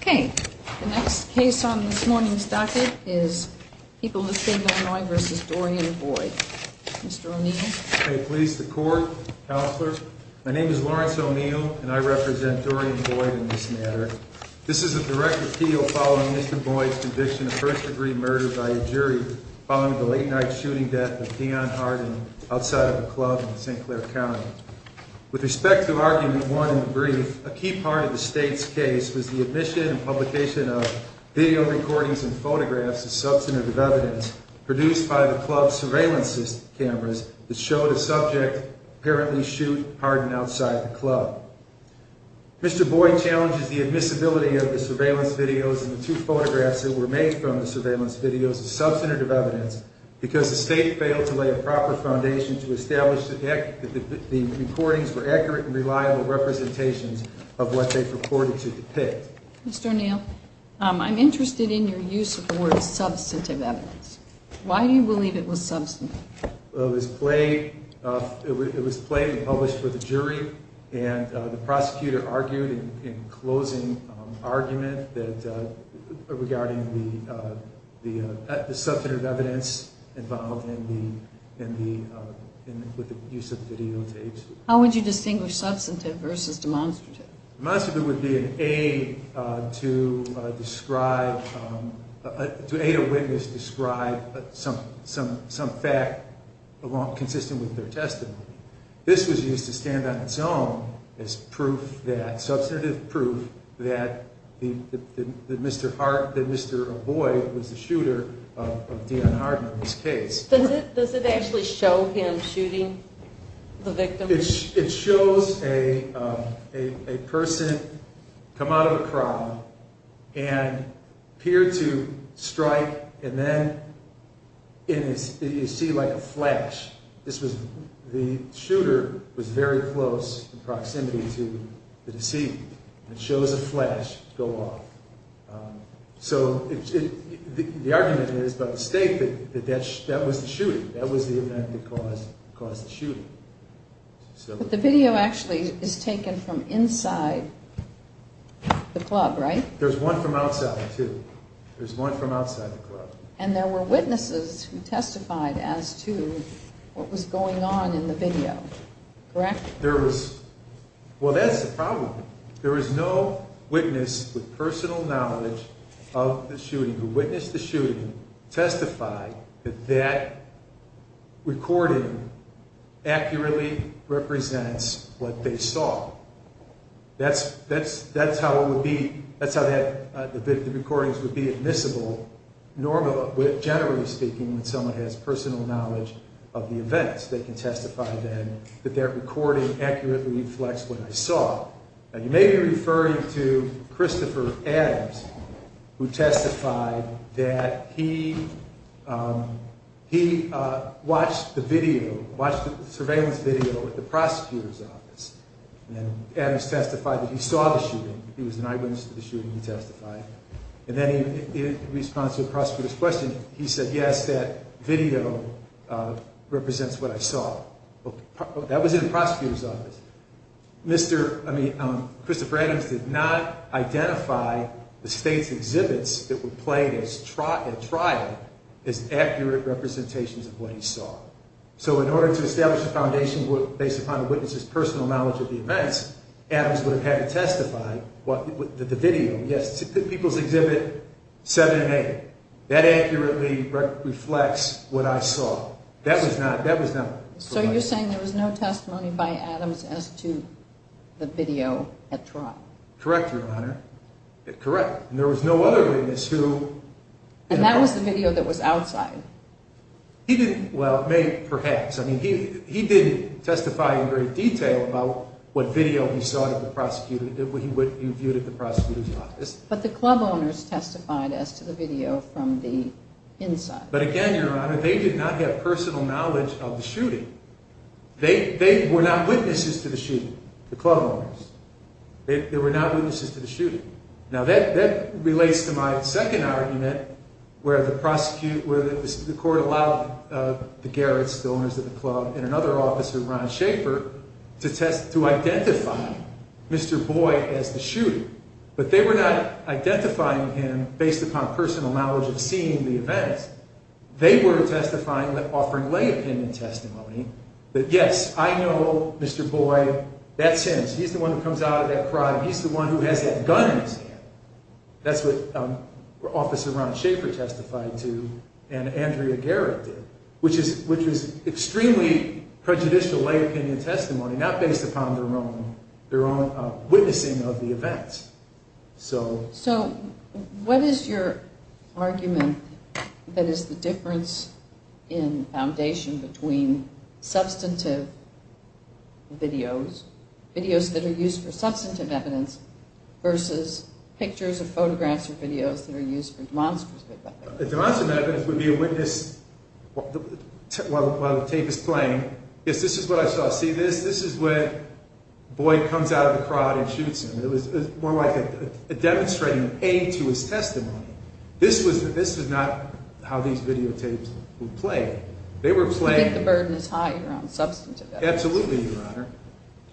Okay, the next case on this morning's docket is People of the State of Illinois v. Dorian Boyd. Mr. O'Neill. May it please the Court, Counselors. My name is Lawrence O'Neill, and I represent Dorian Boyd in this matter. This is a direct appeal following Mr. Boyd's conviction of first-degree murder by a jury following the late-night shooting death of Dion Harden outside of a club in St. Clair County. With respect to Argument 1 in the brief, a key part of the State's case was the admission and publication of video recordings and photographs as substantive evidence produced by the club's surveillance cameras that showed a subject apparently shoot Harden outside the club. Mr. Boyd challenges the admissibility of the surveillance videos and the two photographs that were made from the surveillance videos as substantive evidence because the State failed to lay a proper foundation to establish that the recordings were accurate and reliable representations of what they purported to depict. Mr. O'Neill, I'm interested in your use of the word substantive evidence. Why do you believe it was substantive? It was played and published for the jury, and the prosecutor argued in closing argument regarding the substantive evidence involved with the use of videotapes. How would you distinguish substantive versus demonstrative? Demonstrative would be an aid to describe, to aid a witness describe some fact consistent with their testimony. This was used to stand on its own as proof that, substantive proof that Mr. Boyd was the shooter of Dion Harden in this case. Does it actually show him shooting the victim? It shows a person come out of a crowd and appear to strike and then you see like a flash. The shooter was very close in proximity to the deceit and shows a flash go off. So the argument is by the State that that was the shooting. That was the event that caused the shooting. But the video actually is taken from inside the club, right? There's one from outside too. There's one from outside the club. And there were witnesses who testified as to what was going on in the video, correct? There was, well that's the problem. There was no witness with personal knowledge of the shooting who witnessed the shooting testify that that recording accurately represents what they saw. That's how it would be, that's how the recordings would be admissible normally, generally speaking, when someone has personal knowledge of the events. They can testify then that their recording accurately reflects what they saw. Now you may be referring to Christopher Adams who testified that he watched the video, watched the surveillance video at the prosecutor's office. And Adams testified that he saw the shooting, he was an eyewitness to the shooting, he testified. And then in response to the prosecutor's question, he said yes, that video represents what I saw. That was in the prosecutor's office. Christopher Adams did not identify the State's exhibits that were played at trial as accurate representations of what he saw. So in order to establish a foundation based upon a witness's personal knowledge of the events, Adams would have had to testify that the video, yes, people's exhibit 7A, that accurately reflects what I saw. That was not, that was not. So you're saying there was no testimony by Adams as to the video at trial? Correct, Your Honor, correct. And there was no other witness who. And that was the video that was outside? He didn't, well, maybe, perhaps. I mean, he didn't testify in great detail about what video he saw at the prosecutor's, what he viewed at the prosecutor's office. But the club owners testified as to the video from the inside. But again, Your Honor, they did not have personal knowledge of the shooting. They were not witnesses to the shooting, the club owners. They were not witnesses to the shooting. Now that relates to my second argument where the court allowed the Garretts, the owners of the club, and another officer, Ron Schaffer, to identify Mr. Boyd as the shooter. But they were not identifying him based upon personal knowledge of seeing the events. They were testifying, offering lay opinion testimony that, yes, I know Mr. Boyd, that's him. Yes, he's the one who comes out of that crime. He's the one who has that gun in his hand. That's what Officer Ron Schaffer testified to and Andrea Garrett did, which was extremely prejudicial lay opinion testimony, not based upon their own witnessing of the events. So what is your argument that is the difference in foundation between substantive videos, videos that are used for substantive evidence, versus pictures or photographs or videos that are used for demonstrative evidence? Demonstrative evidence would be a witness while the tape is playing. Yes, this is what I saw. See this? This is where Boyd comes out of the crowd and shoots him. It was more like a demonstrative aid to his testimony. This was not how these videotapes would play. You think the burden is higher on substantive evidence? Absolutely, Your Honor.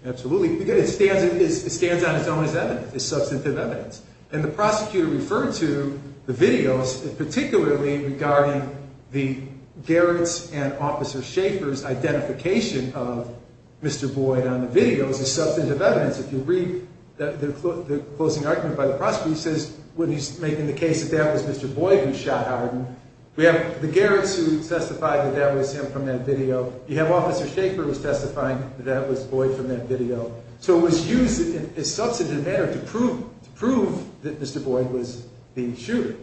Absolutely. Because it stands on its own as evidence, as substantive evidence. And the prosecutor referred to the videos, particularly regarding the Garretts and Officer Schaffer's identification of Mr. Boyd on the videos, as substantive evidence. If you read the closing argument by the prosecutor, he says when he's making the case that that was Mr. Boyd who shot Howard. We have the Garretts who testified that that was him from that video. You have Officer Schaffer who was testifying that that was Boyd from that video. So it was used in a substantive manner to prove that Mr. Boyd was the shooter.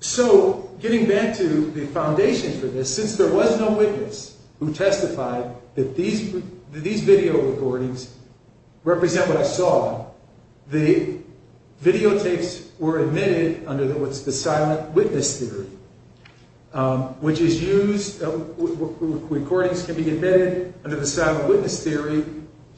So getting back to the foundation for this, since there was no witness who testified that these video recordings represent what I saw, the videotapes were admitted under what's the silent witness theory, which is used, recordings can be admitted under the silent witness theory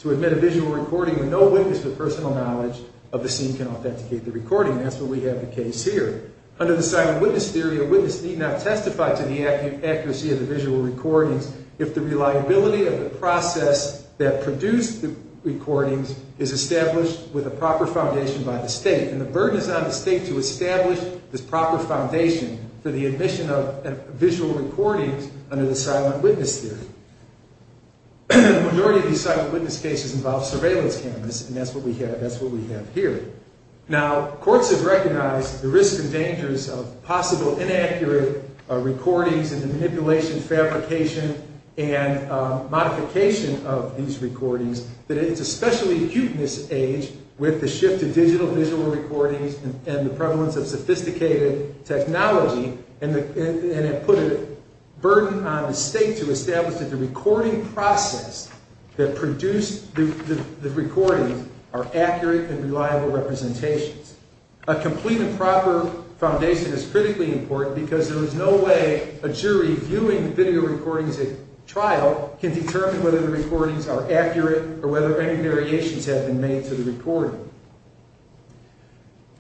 to admit a visual recording where no witness with personal knowledge of the scene can authenticate the recording. That's what we have the case here. Under the silent witness theory, a witness need not testify to the accuracy of the visual recordings if the reliability of the process that produced the recordings is established with a proper foundation by the state. And the burden is on the state to establish this proper foundation for the admission of visual recordings under the silent witness theory. The majority of these silent witness cases involve surveillance cameras, and that's what we have here. Now, courts have recognized the risks and dangers of possible inaccurate recordings and the manipulation, fabrication, and modification of these recordings, that it's especially acute in this age with the shift to digital visual recordings and the prevalence of sophisticated technology, and it put a burden on the state to establish that the recording process that produced the recording are accurate and reliable representations. A complete and proper foundation is critically important because there is no way a jury viewing video recordings at trial can determine whether the recordings are accurate or whether any variations have been made to the recording.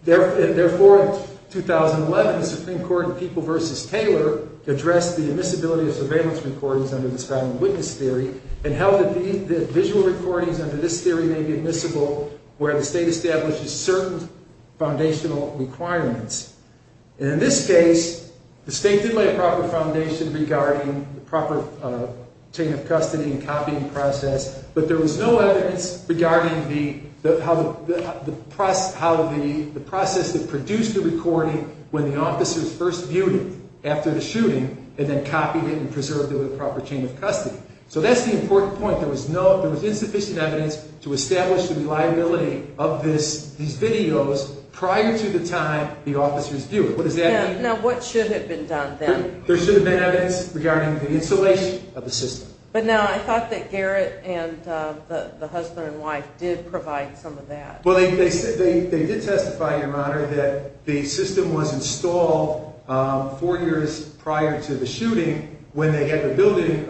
Therefore, in 2011, the Supreme Court in People v. Taylor addressed the admissibility of surveillance recordings under the silent witness theory and held that visual recordings under this theory may be admissible where the state establishes certain foundational requirements. And in this case, the state did lay a proper foundation regarding the proper chain of custody and copying process, but there was no evidence regarding the process that produced the recording when the officers first viewed it after the shooting and then copied it and preserved it with proper chain of custody. So that's the important point. There was insufficient evidence to establish the reliability of these videos prior to the time the officers viewed it. What does that mean? Now, what should have been done then? There should have been evidence regarding the installation of the system. But no, I thought that Garrett and the husband and wife did provide some of that. Well, they did testify, Your Honor, that the system was installed four years prior to the shooting when they had the building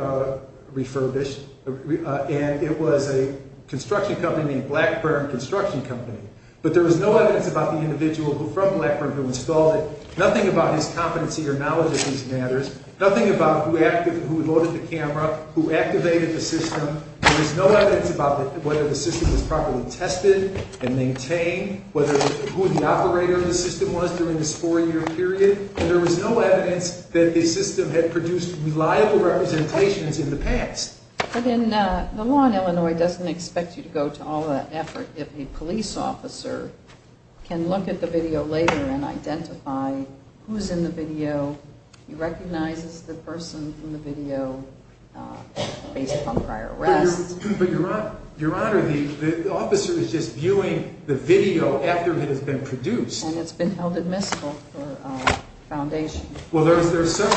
refurbished, and it was a construction company named Blackburn Construction Company. But there was no evidence about the individual from Blackburn who installed it, nothing about his competency or knowledge of these matters, nothing about who loaded the camera, who activated the system. There was no evidence about whether the system was properly tested and maintained, who the operator of the system was during this four-year period. There was no evidence that the system had produced reliable representations in the past. But the law in Illinois doesn't expect you to go to all that effort. If a police officer can look at the video later and identify who's in the video, he recognizes the person from the video based upon prior arrests. But, Your Honor, the officer is just viewing the video after it has been produced. And it's been held admissible for foundation. Well, there are several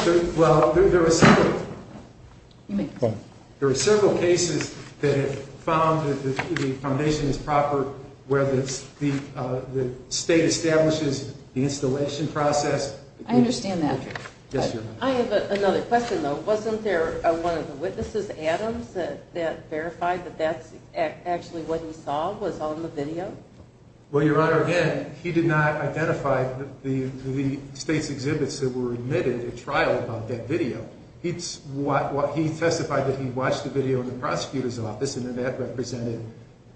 cases that have found that the foundation is proper, where the state establishes the installation process. I understand that. Yes, Your Honor. I have another question, though. Wasn't there one of the witnesses, Adams, that verified that that's actually what he saw was on the video? Well, Your Honor, again, he did not identify the state's exhibits that were admitted at trial about that video. He testified that he watched the video in the prosecutor's office, and that represented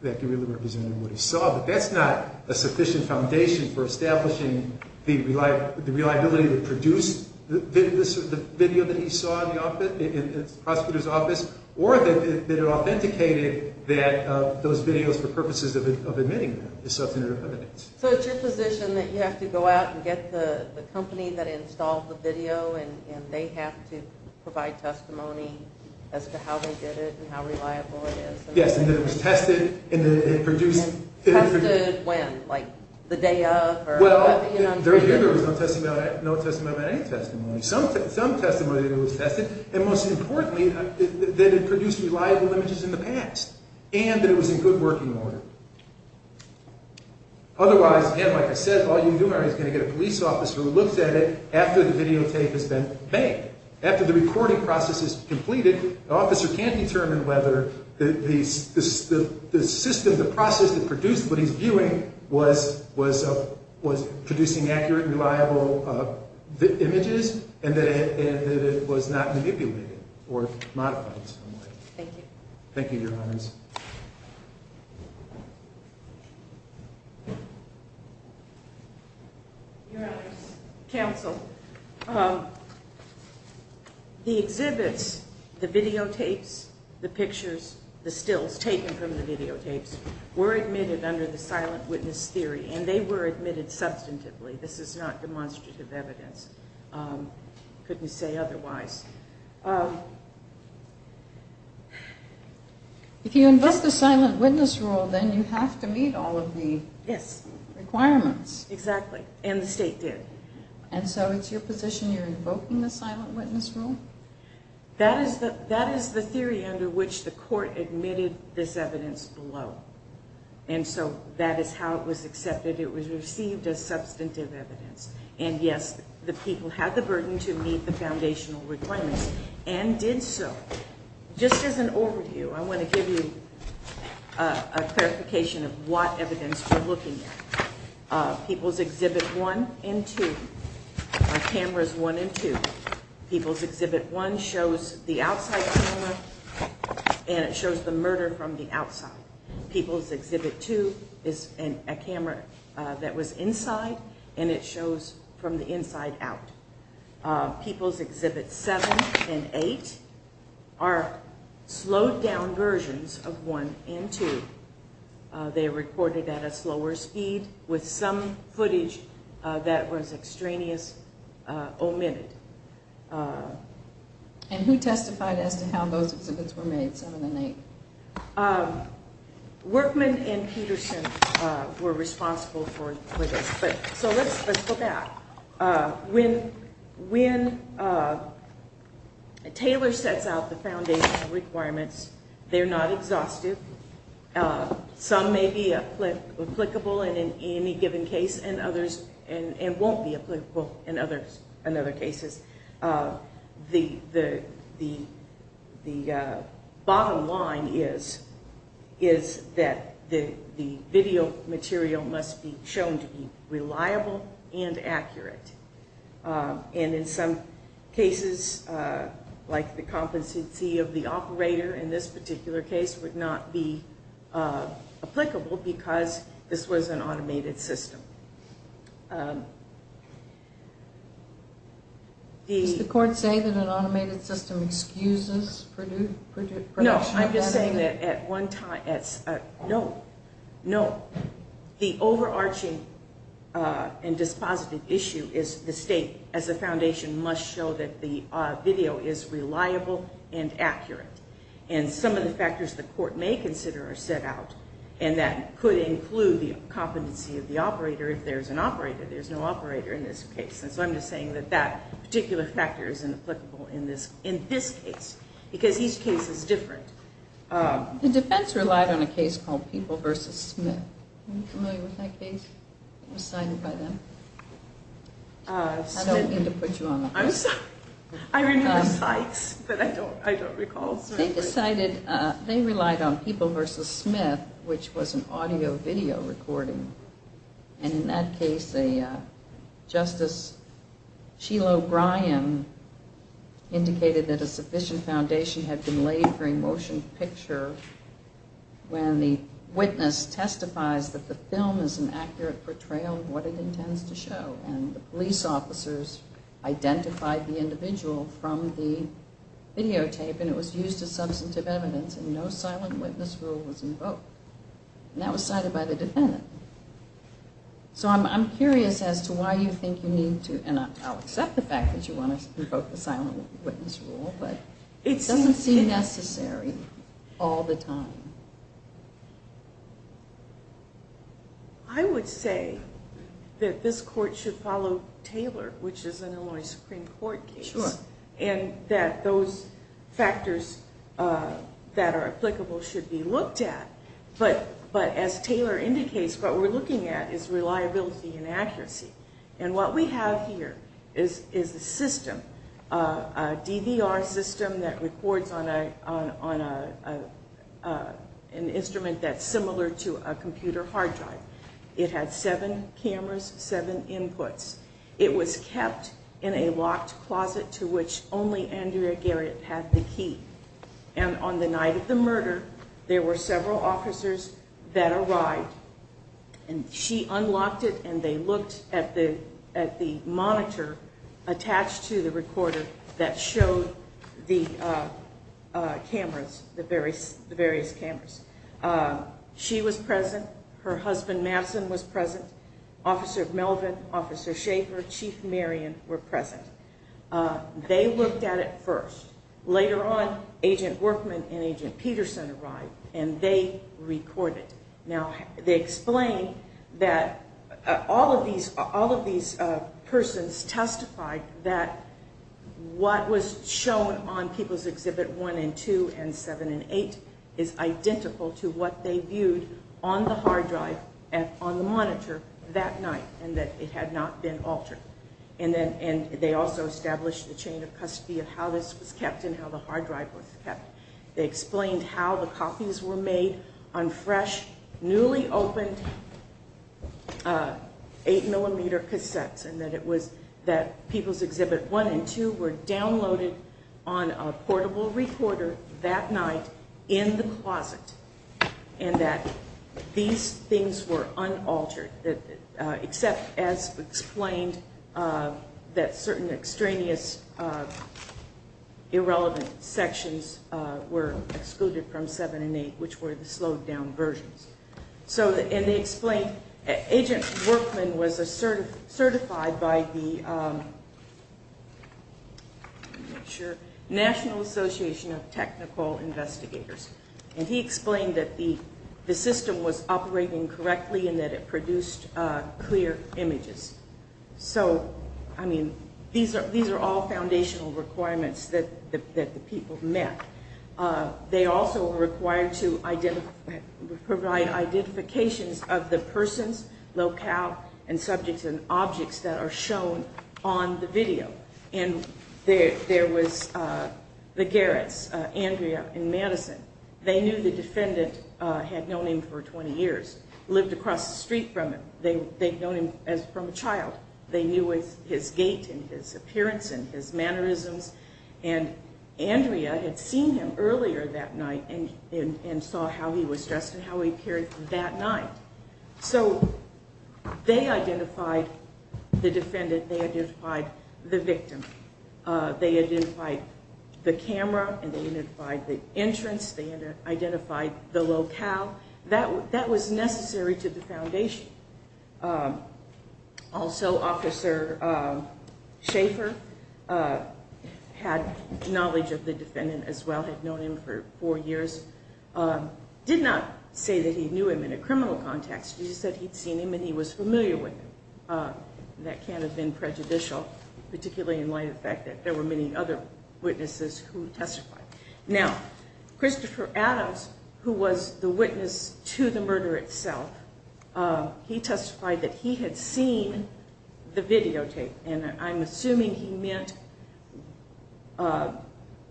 what he saw. But that's not a sufficient foundation for establishing the reliability to produce the video that he saw in the prosecutor's office, or that it authenticated those videos for purposes of admitting them as substantive evidence. So it's your position that you have to go out and get the company that installed the video, and they have to provide testimony as to how they did it and how reliable it is? Yes, and that it was tested, and that it produced... Tested when? Like the day of? Well, there was no testimony about any testimony. Some testimony that it was tested, and most importantly, that it produced reliable images in the past, and that it was in good working order. Otherwise, again, like I said, all you do, Mary, is going to get a police officer who looks at it after the videotape has been made. After the recording process is completed, the officer can't determine whether the system, the process that produced what he's viewing was producing accurate, reliable images, and that it was not manipulated or modified in some way. Thank you. Thank you, Your Honors. Your Honors, counsel, the exhibits, the videotapes, the pictures, the stills taken from the videotapes, were admitted under the silent witness theory, and they were admitted substantively. This is not demonstrative evidence. Couldn't say otherwise. If you invest the silent witness rule, then you have to meet all of the requirements. Yes, exactly, and the state did. And so it's your position you're invoking the silent witness rule? That is the theory under which the court admitted this evidence below, and so that is how it was accepted. It was received as substantive evidence, and, yes, the people had the burden to meet the foundational requirements. And did so. Just as an overview, I want to give you a clarification of what evidence you're looking at. People's Exhibit 1 and 2 are cameras 1 and 2. People's Exhibit 1 shows the outside camera, and it shows the murder from the outside. People's Exhibit 2 is a camera that was inside, and it shows from the inside out. People's Exhibit 7 and 8 are slowed down versions of 1 and 2. They are recorded at a slower speed with some footage that was extraneous omitted. And who testified as to how those exhibits were made, 7 and 8? Workman and Peterson were responsible for this. So let's go back. When Taylor sets out the foundational requirements, they're not exhaustive. Some may be applicable in any given case and others won't be applicable in other cases. The bottom line is that the video material must be shown to be reliable and accurate. And in some cases, like the competency of the operator in this particular case, would not be applicable because this was an automated system. Does the court say that an automated system excuses production? No, I'm just saying that at one time, no, no. The overarching and dispositive issue is the state, as a foundation, must show that the video is reliable and accurate. And some of the factors the court may consider are set out, and that could include the competency of the operator if there's an operator. There's no operator in this case. And so I'm just saying that that particular factor is inapplicable in this case because each case is different. The defense relied on a case called People v. Smith. Are you familiar with that case that was cited by them? I don't mean to put you on the hook. I'm sorry. I remember Sykes, but I don't recall Smith. They relied on People v. Smith, which was an audio-video recording. And in that case, Justice Sheila O'Brien indicated that a sufficient foundation had been laid for a motion picture when the witness testifies that the film is an accurate portrayal of what it intends to show. And the police officers identified the individual from the videotape, and it was used as substantive evidence, and no silent witness rule was invoked. And that was cited by the defendant. So I'm curious as to why you think you need to, and I'll accept the fact that you want to invoke the silent witness rule, but it doesn't seem necessary all the time. I would say that this court should follow Taylor, which is an Illinois Supreme Court case, and that those factors that are applicable should be looked at. But as Taylor indicates, what we're looking at is reliability and accuracy. And what we have here is a system, a DVR system that records on an instrument that's similar to a computer hard drive. It had seven cameras, seven inputs. It was kept in a locked closet to which only Andrea Garrett had the key. And on the night of the murder, there were several officers that arrived, and she unlocked it, and they looked at the monitor attached to the recorder that showed the cameras, the various cameras. She was present. Her husband, Madison, was present. Officer Melvin, Officer Schaefer, Chief Marion were present. They looked at it first. Later on, Agent Workman and Agent Peterson arrived, and they recorded. Now, they explained that all of these persons testified that what was shown on People's Exhibit 1 and 2 and 7 and 8 is identical to what they viewed on the hard drive and on the monitor that night and that it had not been altered. And they also established the chain of custody of how this was kept and how the hard drive was kept. They explained how the copies were made on fresh, newly opened 8-millimeter cassettes and that People's Exhibit 1 and 2 were downloaded on a portable recorder that night in the closet and that these things were unaltered except, as explained, that certain extraneous irrelevant sections were excluded from 7 and 8, which were the slowed-down versions. And they explained Agent Workman was certified by the National Association of Technical Investigators, and he explained that the system was operating correctly and that it produced clear images. So, I mean, these are all foundational requirements that the people met. They also were required to provide identifications of the persons, locale, and subjects and objects that are shown on the video. And there was the Garretts, Andrea and Madison. They knew the defendant, had known him for 20 years, lived across the street from him. They'd known him from a child. They knew his gait and his appearance and his mannerisms. And Andrea had seen him earlier that night and saw how he was dressed and how he appeared that night. So they identified the defendant. They identified the victim. They identified the camera and they identified the entrance. They identified the locale. That was necessary to the foundation. Also, Officer Schaefer had knowledge of the defendant as well, had known him for four years. Did not say that he knew him in a criminal context. He just said he'd seen him and he was familiar with him. That can't have been prejudicial, particularly in light of the fact that there were many other witnesses who testified. Now, Christopher Adams, who was the witness to the murder itself, he testified that he had seen the videotape. And I'm assuming he meant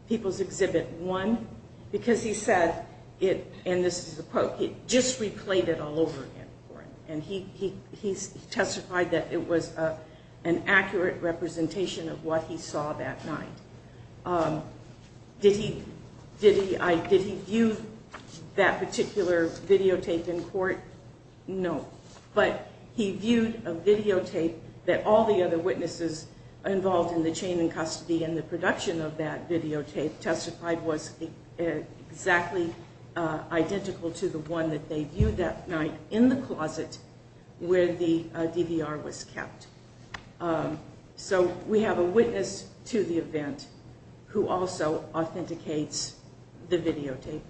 People's Exhibit 1 because he said, and this is a quote, he just replayed it all over again for him. And he testified that it was an accurate representation of what he saw that night. Did he view that particular videotape in court? No, but he viewed a videotape that all the other witnesses involved in the chain in custody and the production of that videotape testified was exactly identical to the one that they viewed that night in the closet where the DVR was kept. So we have a witness to the event who also authenticates the videotape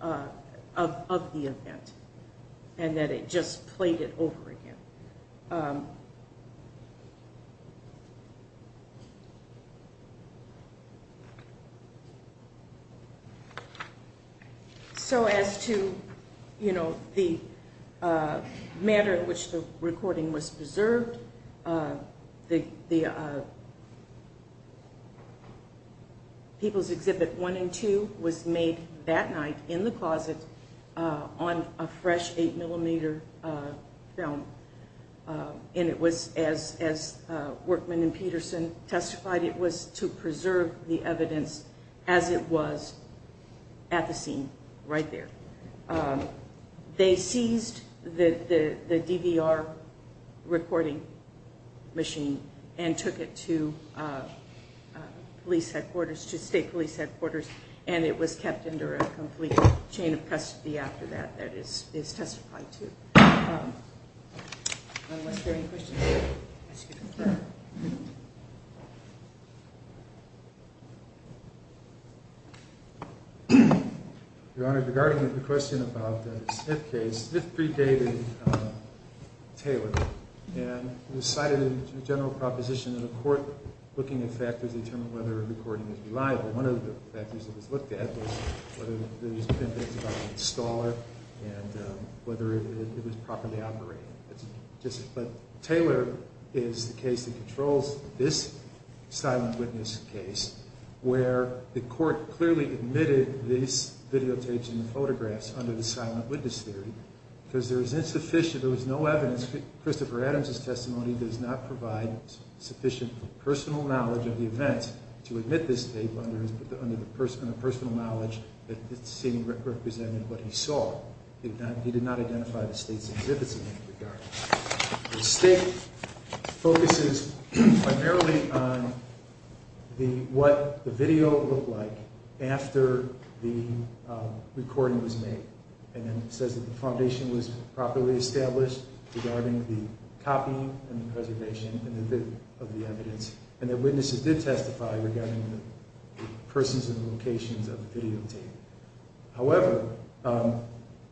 of the event and that it just played it over again. So as to, you know, the manner in which the recording was preserved, People's Exhibit 1 and 2 was made that night in the closet on a fresh 8mm film. And it was, as Workman and Peterson testified, it was to preserve the evidence as it was at the scene right there. They seized the DVR recording machine and took it to police headquarters, to state police headquarters, and it was kept under a complete chain of custody after that that is testified to. Unless there are any questions, I'll ask you to continue. Your Honor, regarding the question about the Smith case, Smith predated Taylor. And he cited a general proposition in the court looking at factors that determine whether a recording is reliable. One of the factors that was looked at was whether there's been things about the installer and whether it was properly operated. But Taylor is the case that controls this silent witness case where the court clearly admitted these videotapes and photographs under the silent witness theory because there was insufficient, there was no evidence. Christopher Adams' testimony does not provide sufficient personal knowledge of the event to admit this tape under the personal knowledge that this scene represented what he saw. He did not identify the state's exhibits in any regard. The state focuses primarily on what the video looked like after the recording was made. And then it says that the foundation was properly established regarding the copying and the preservation of the evidence. And the witnesses did testify regarding the persons and locations of the videotape. However,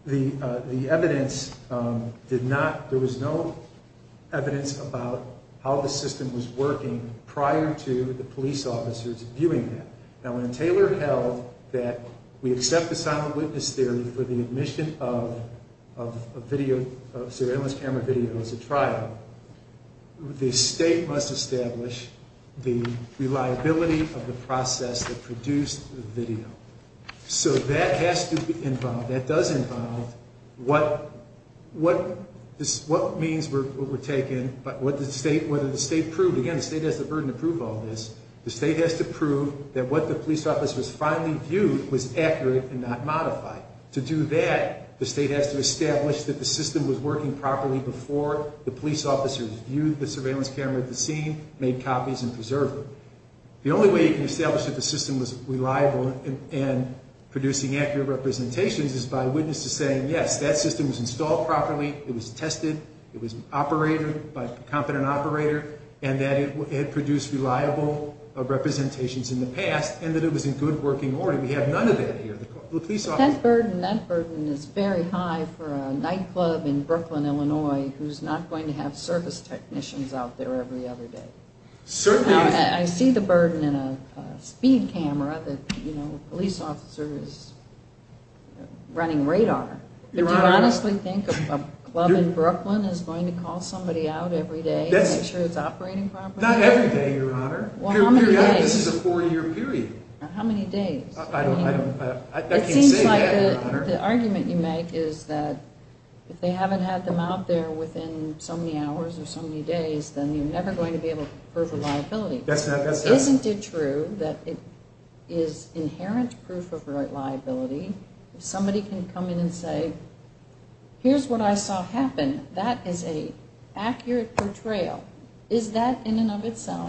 the evidence did not, there was no evidence about how the system was working prior to the police officers viewing that. Now when Taylor held that we accept the silent witness theory for the admission of surveillance camera video as a trial, the state must establish the reliability of the process that produced the video. So that has to be involved, that does involve what means were taken, whether the state proved, again the state has the burden to prove all this, the state has to prove that what the police officers finally viewed was accurate and not modified. To do that, the state has to establish that the system was working properly before the police officers viewed the surveillance camera at the scene, made copies and preserved them. The only way you can establish that the system was reliable and producing accurate representations is by witnesses saying yes, that system was installed properly, it was tested, it was operated by a competent operator, and that it had produced reliable representations in the past and that it was in good working order. We have none of that here. That burden is very high for a nightclub in Brooklyn, Illinois, who's not going to have service technicians out there every other day. I see the burden in a speed camera that a police officer is running radar. Do you honestly think a club in Brooklyn is going to call somebody out every day to make sure it's operating properly? Not every day, Your Honor. How many days? This is a four year period. How many days? I can't say that, Your Honor. It seems like the argument you make is that if they haven't had them out there within so many hours or so many days, then you're never going to be able to prove a liability. That's not true. Isn't it true that it is inherent proof of liability if somebody can come in and say, here's what I saw happen. That is an accurate portrayal. Is that in and of itself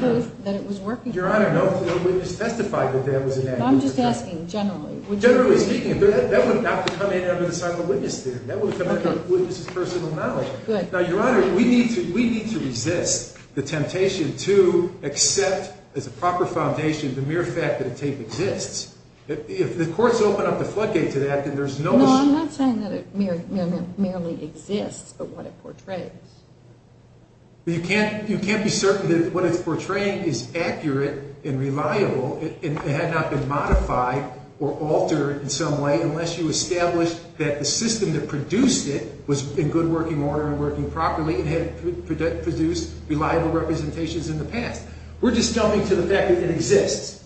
proof that it was working? Your Honor, no witness testified that that was an accurate portrayal. I'm just asking generally. Generally speaking, that would not come in under the sign of a witness there. That would come under the witness's personal knowledge. Good. Now, Your Honor, we need to resist the temptation to accept as a proper foundation the mere fact that a tape exists. If the courts open up the floodgate to that, then there's no... No, I'm not saying that it merely exists, but what it portrays. You can't be certain that what it's portraying is accurate and reliable. It had not been modified or altered in some way unless you established that the system that produced it was in good working order and working properly and had produced reliable representations in the past. We're just jumping to the fact that it exists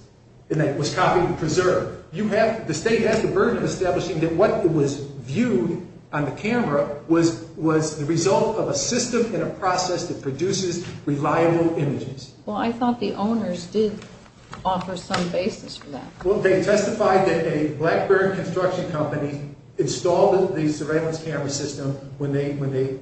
and that it was copied and preserved. The State has the burden of establishing that what was viewed on the camera was the result of a system and a process that produces reliable images. Well, I thought the owners did offer some basis for that. Well, they testified that a Blackburn construction company installed the surveillance camera system when they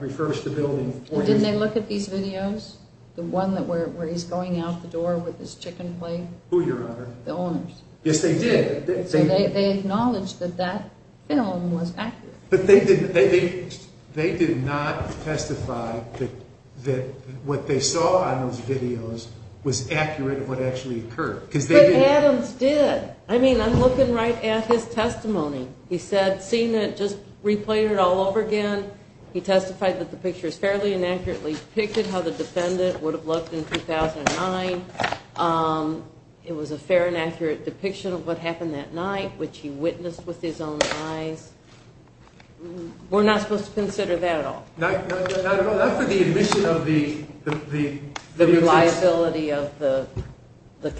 refurbished the building. Didn't they look at these videos? The one where he's going out the door with his chicken plate? Who, Your Honor? The owners. Yes, they did. They acknowledged that that film was accurate. But they did not testify that what they saw on those videos was accurate of what actually occurred. But Adams did. I mean, I'm looking right at his testimony. He said, seen it, just replayed it all over again. He testified that the picture is fairly and accurately depicted, how the defendant would have looked in 2009. It was a fair and accurate depiction of what happened that night, which he witnessed with his own eyes. We're not supposed to consider that at all. Not at all. Not for the admission of the video. The reliability of the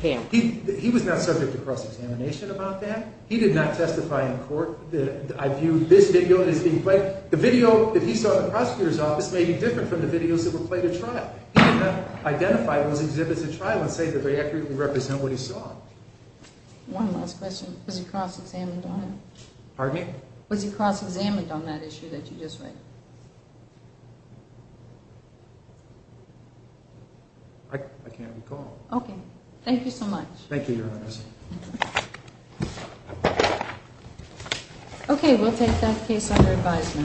camera. He was not subject to cross-examination about that. He did not testify in court that I viewed this video as being played. The video that he saw in the prosecutor's office may be different from the videos that were played at trial. He did not identify those exhibits at trial and say that they accurately represent what he saw. One last question. Was he cross-examined on it? Pardon me? Was he cross-examined on that issue that you just read? I can't recall. Okay. Thank you so much. Thank you, Your Honor. Okay, we'll take that case under advisement.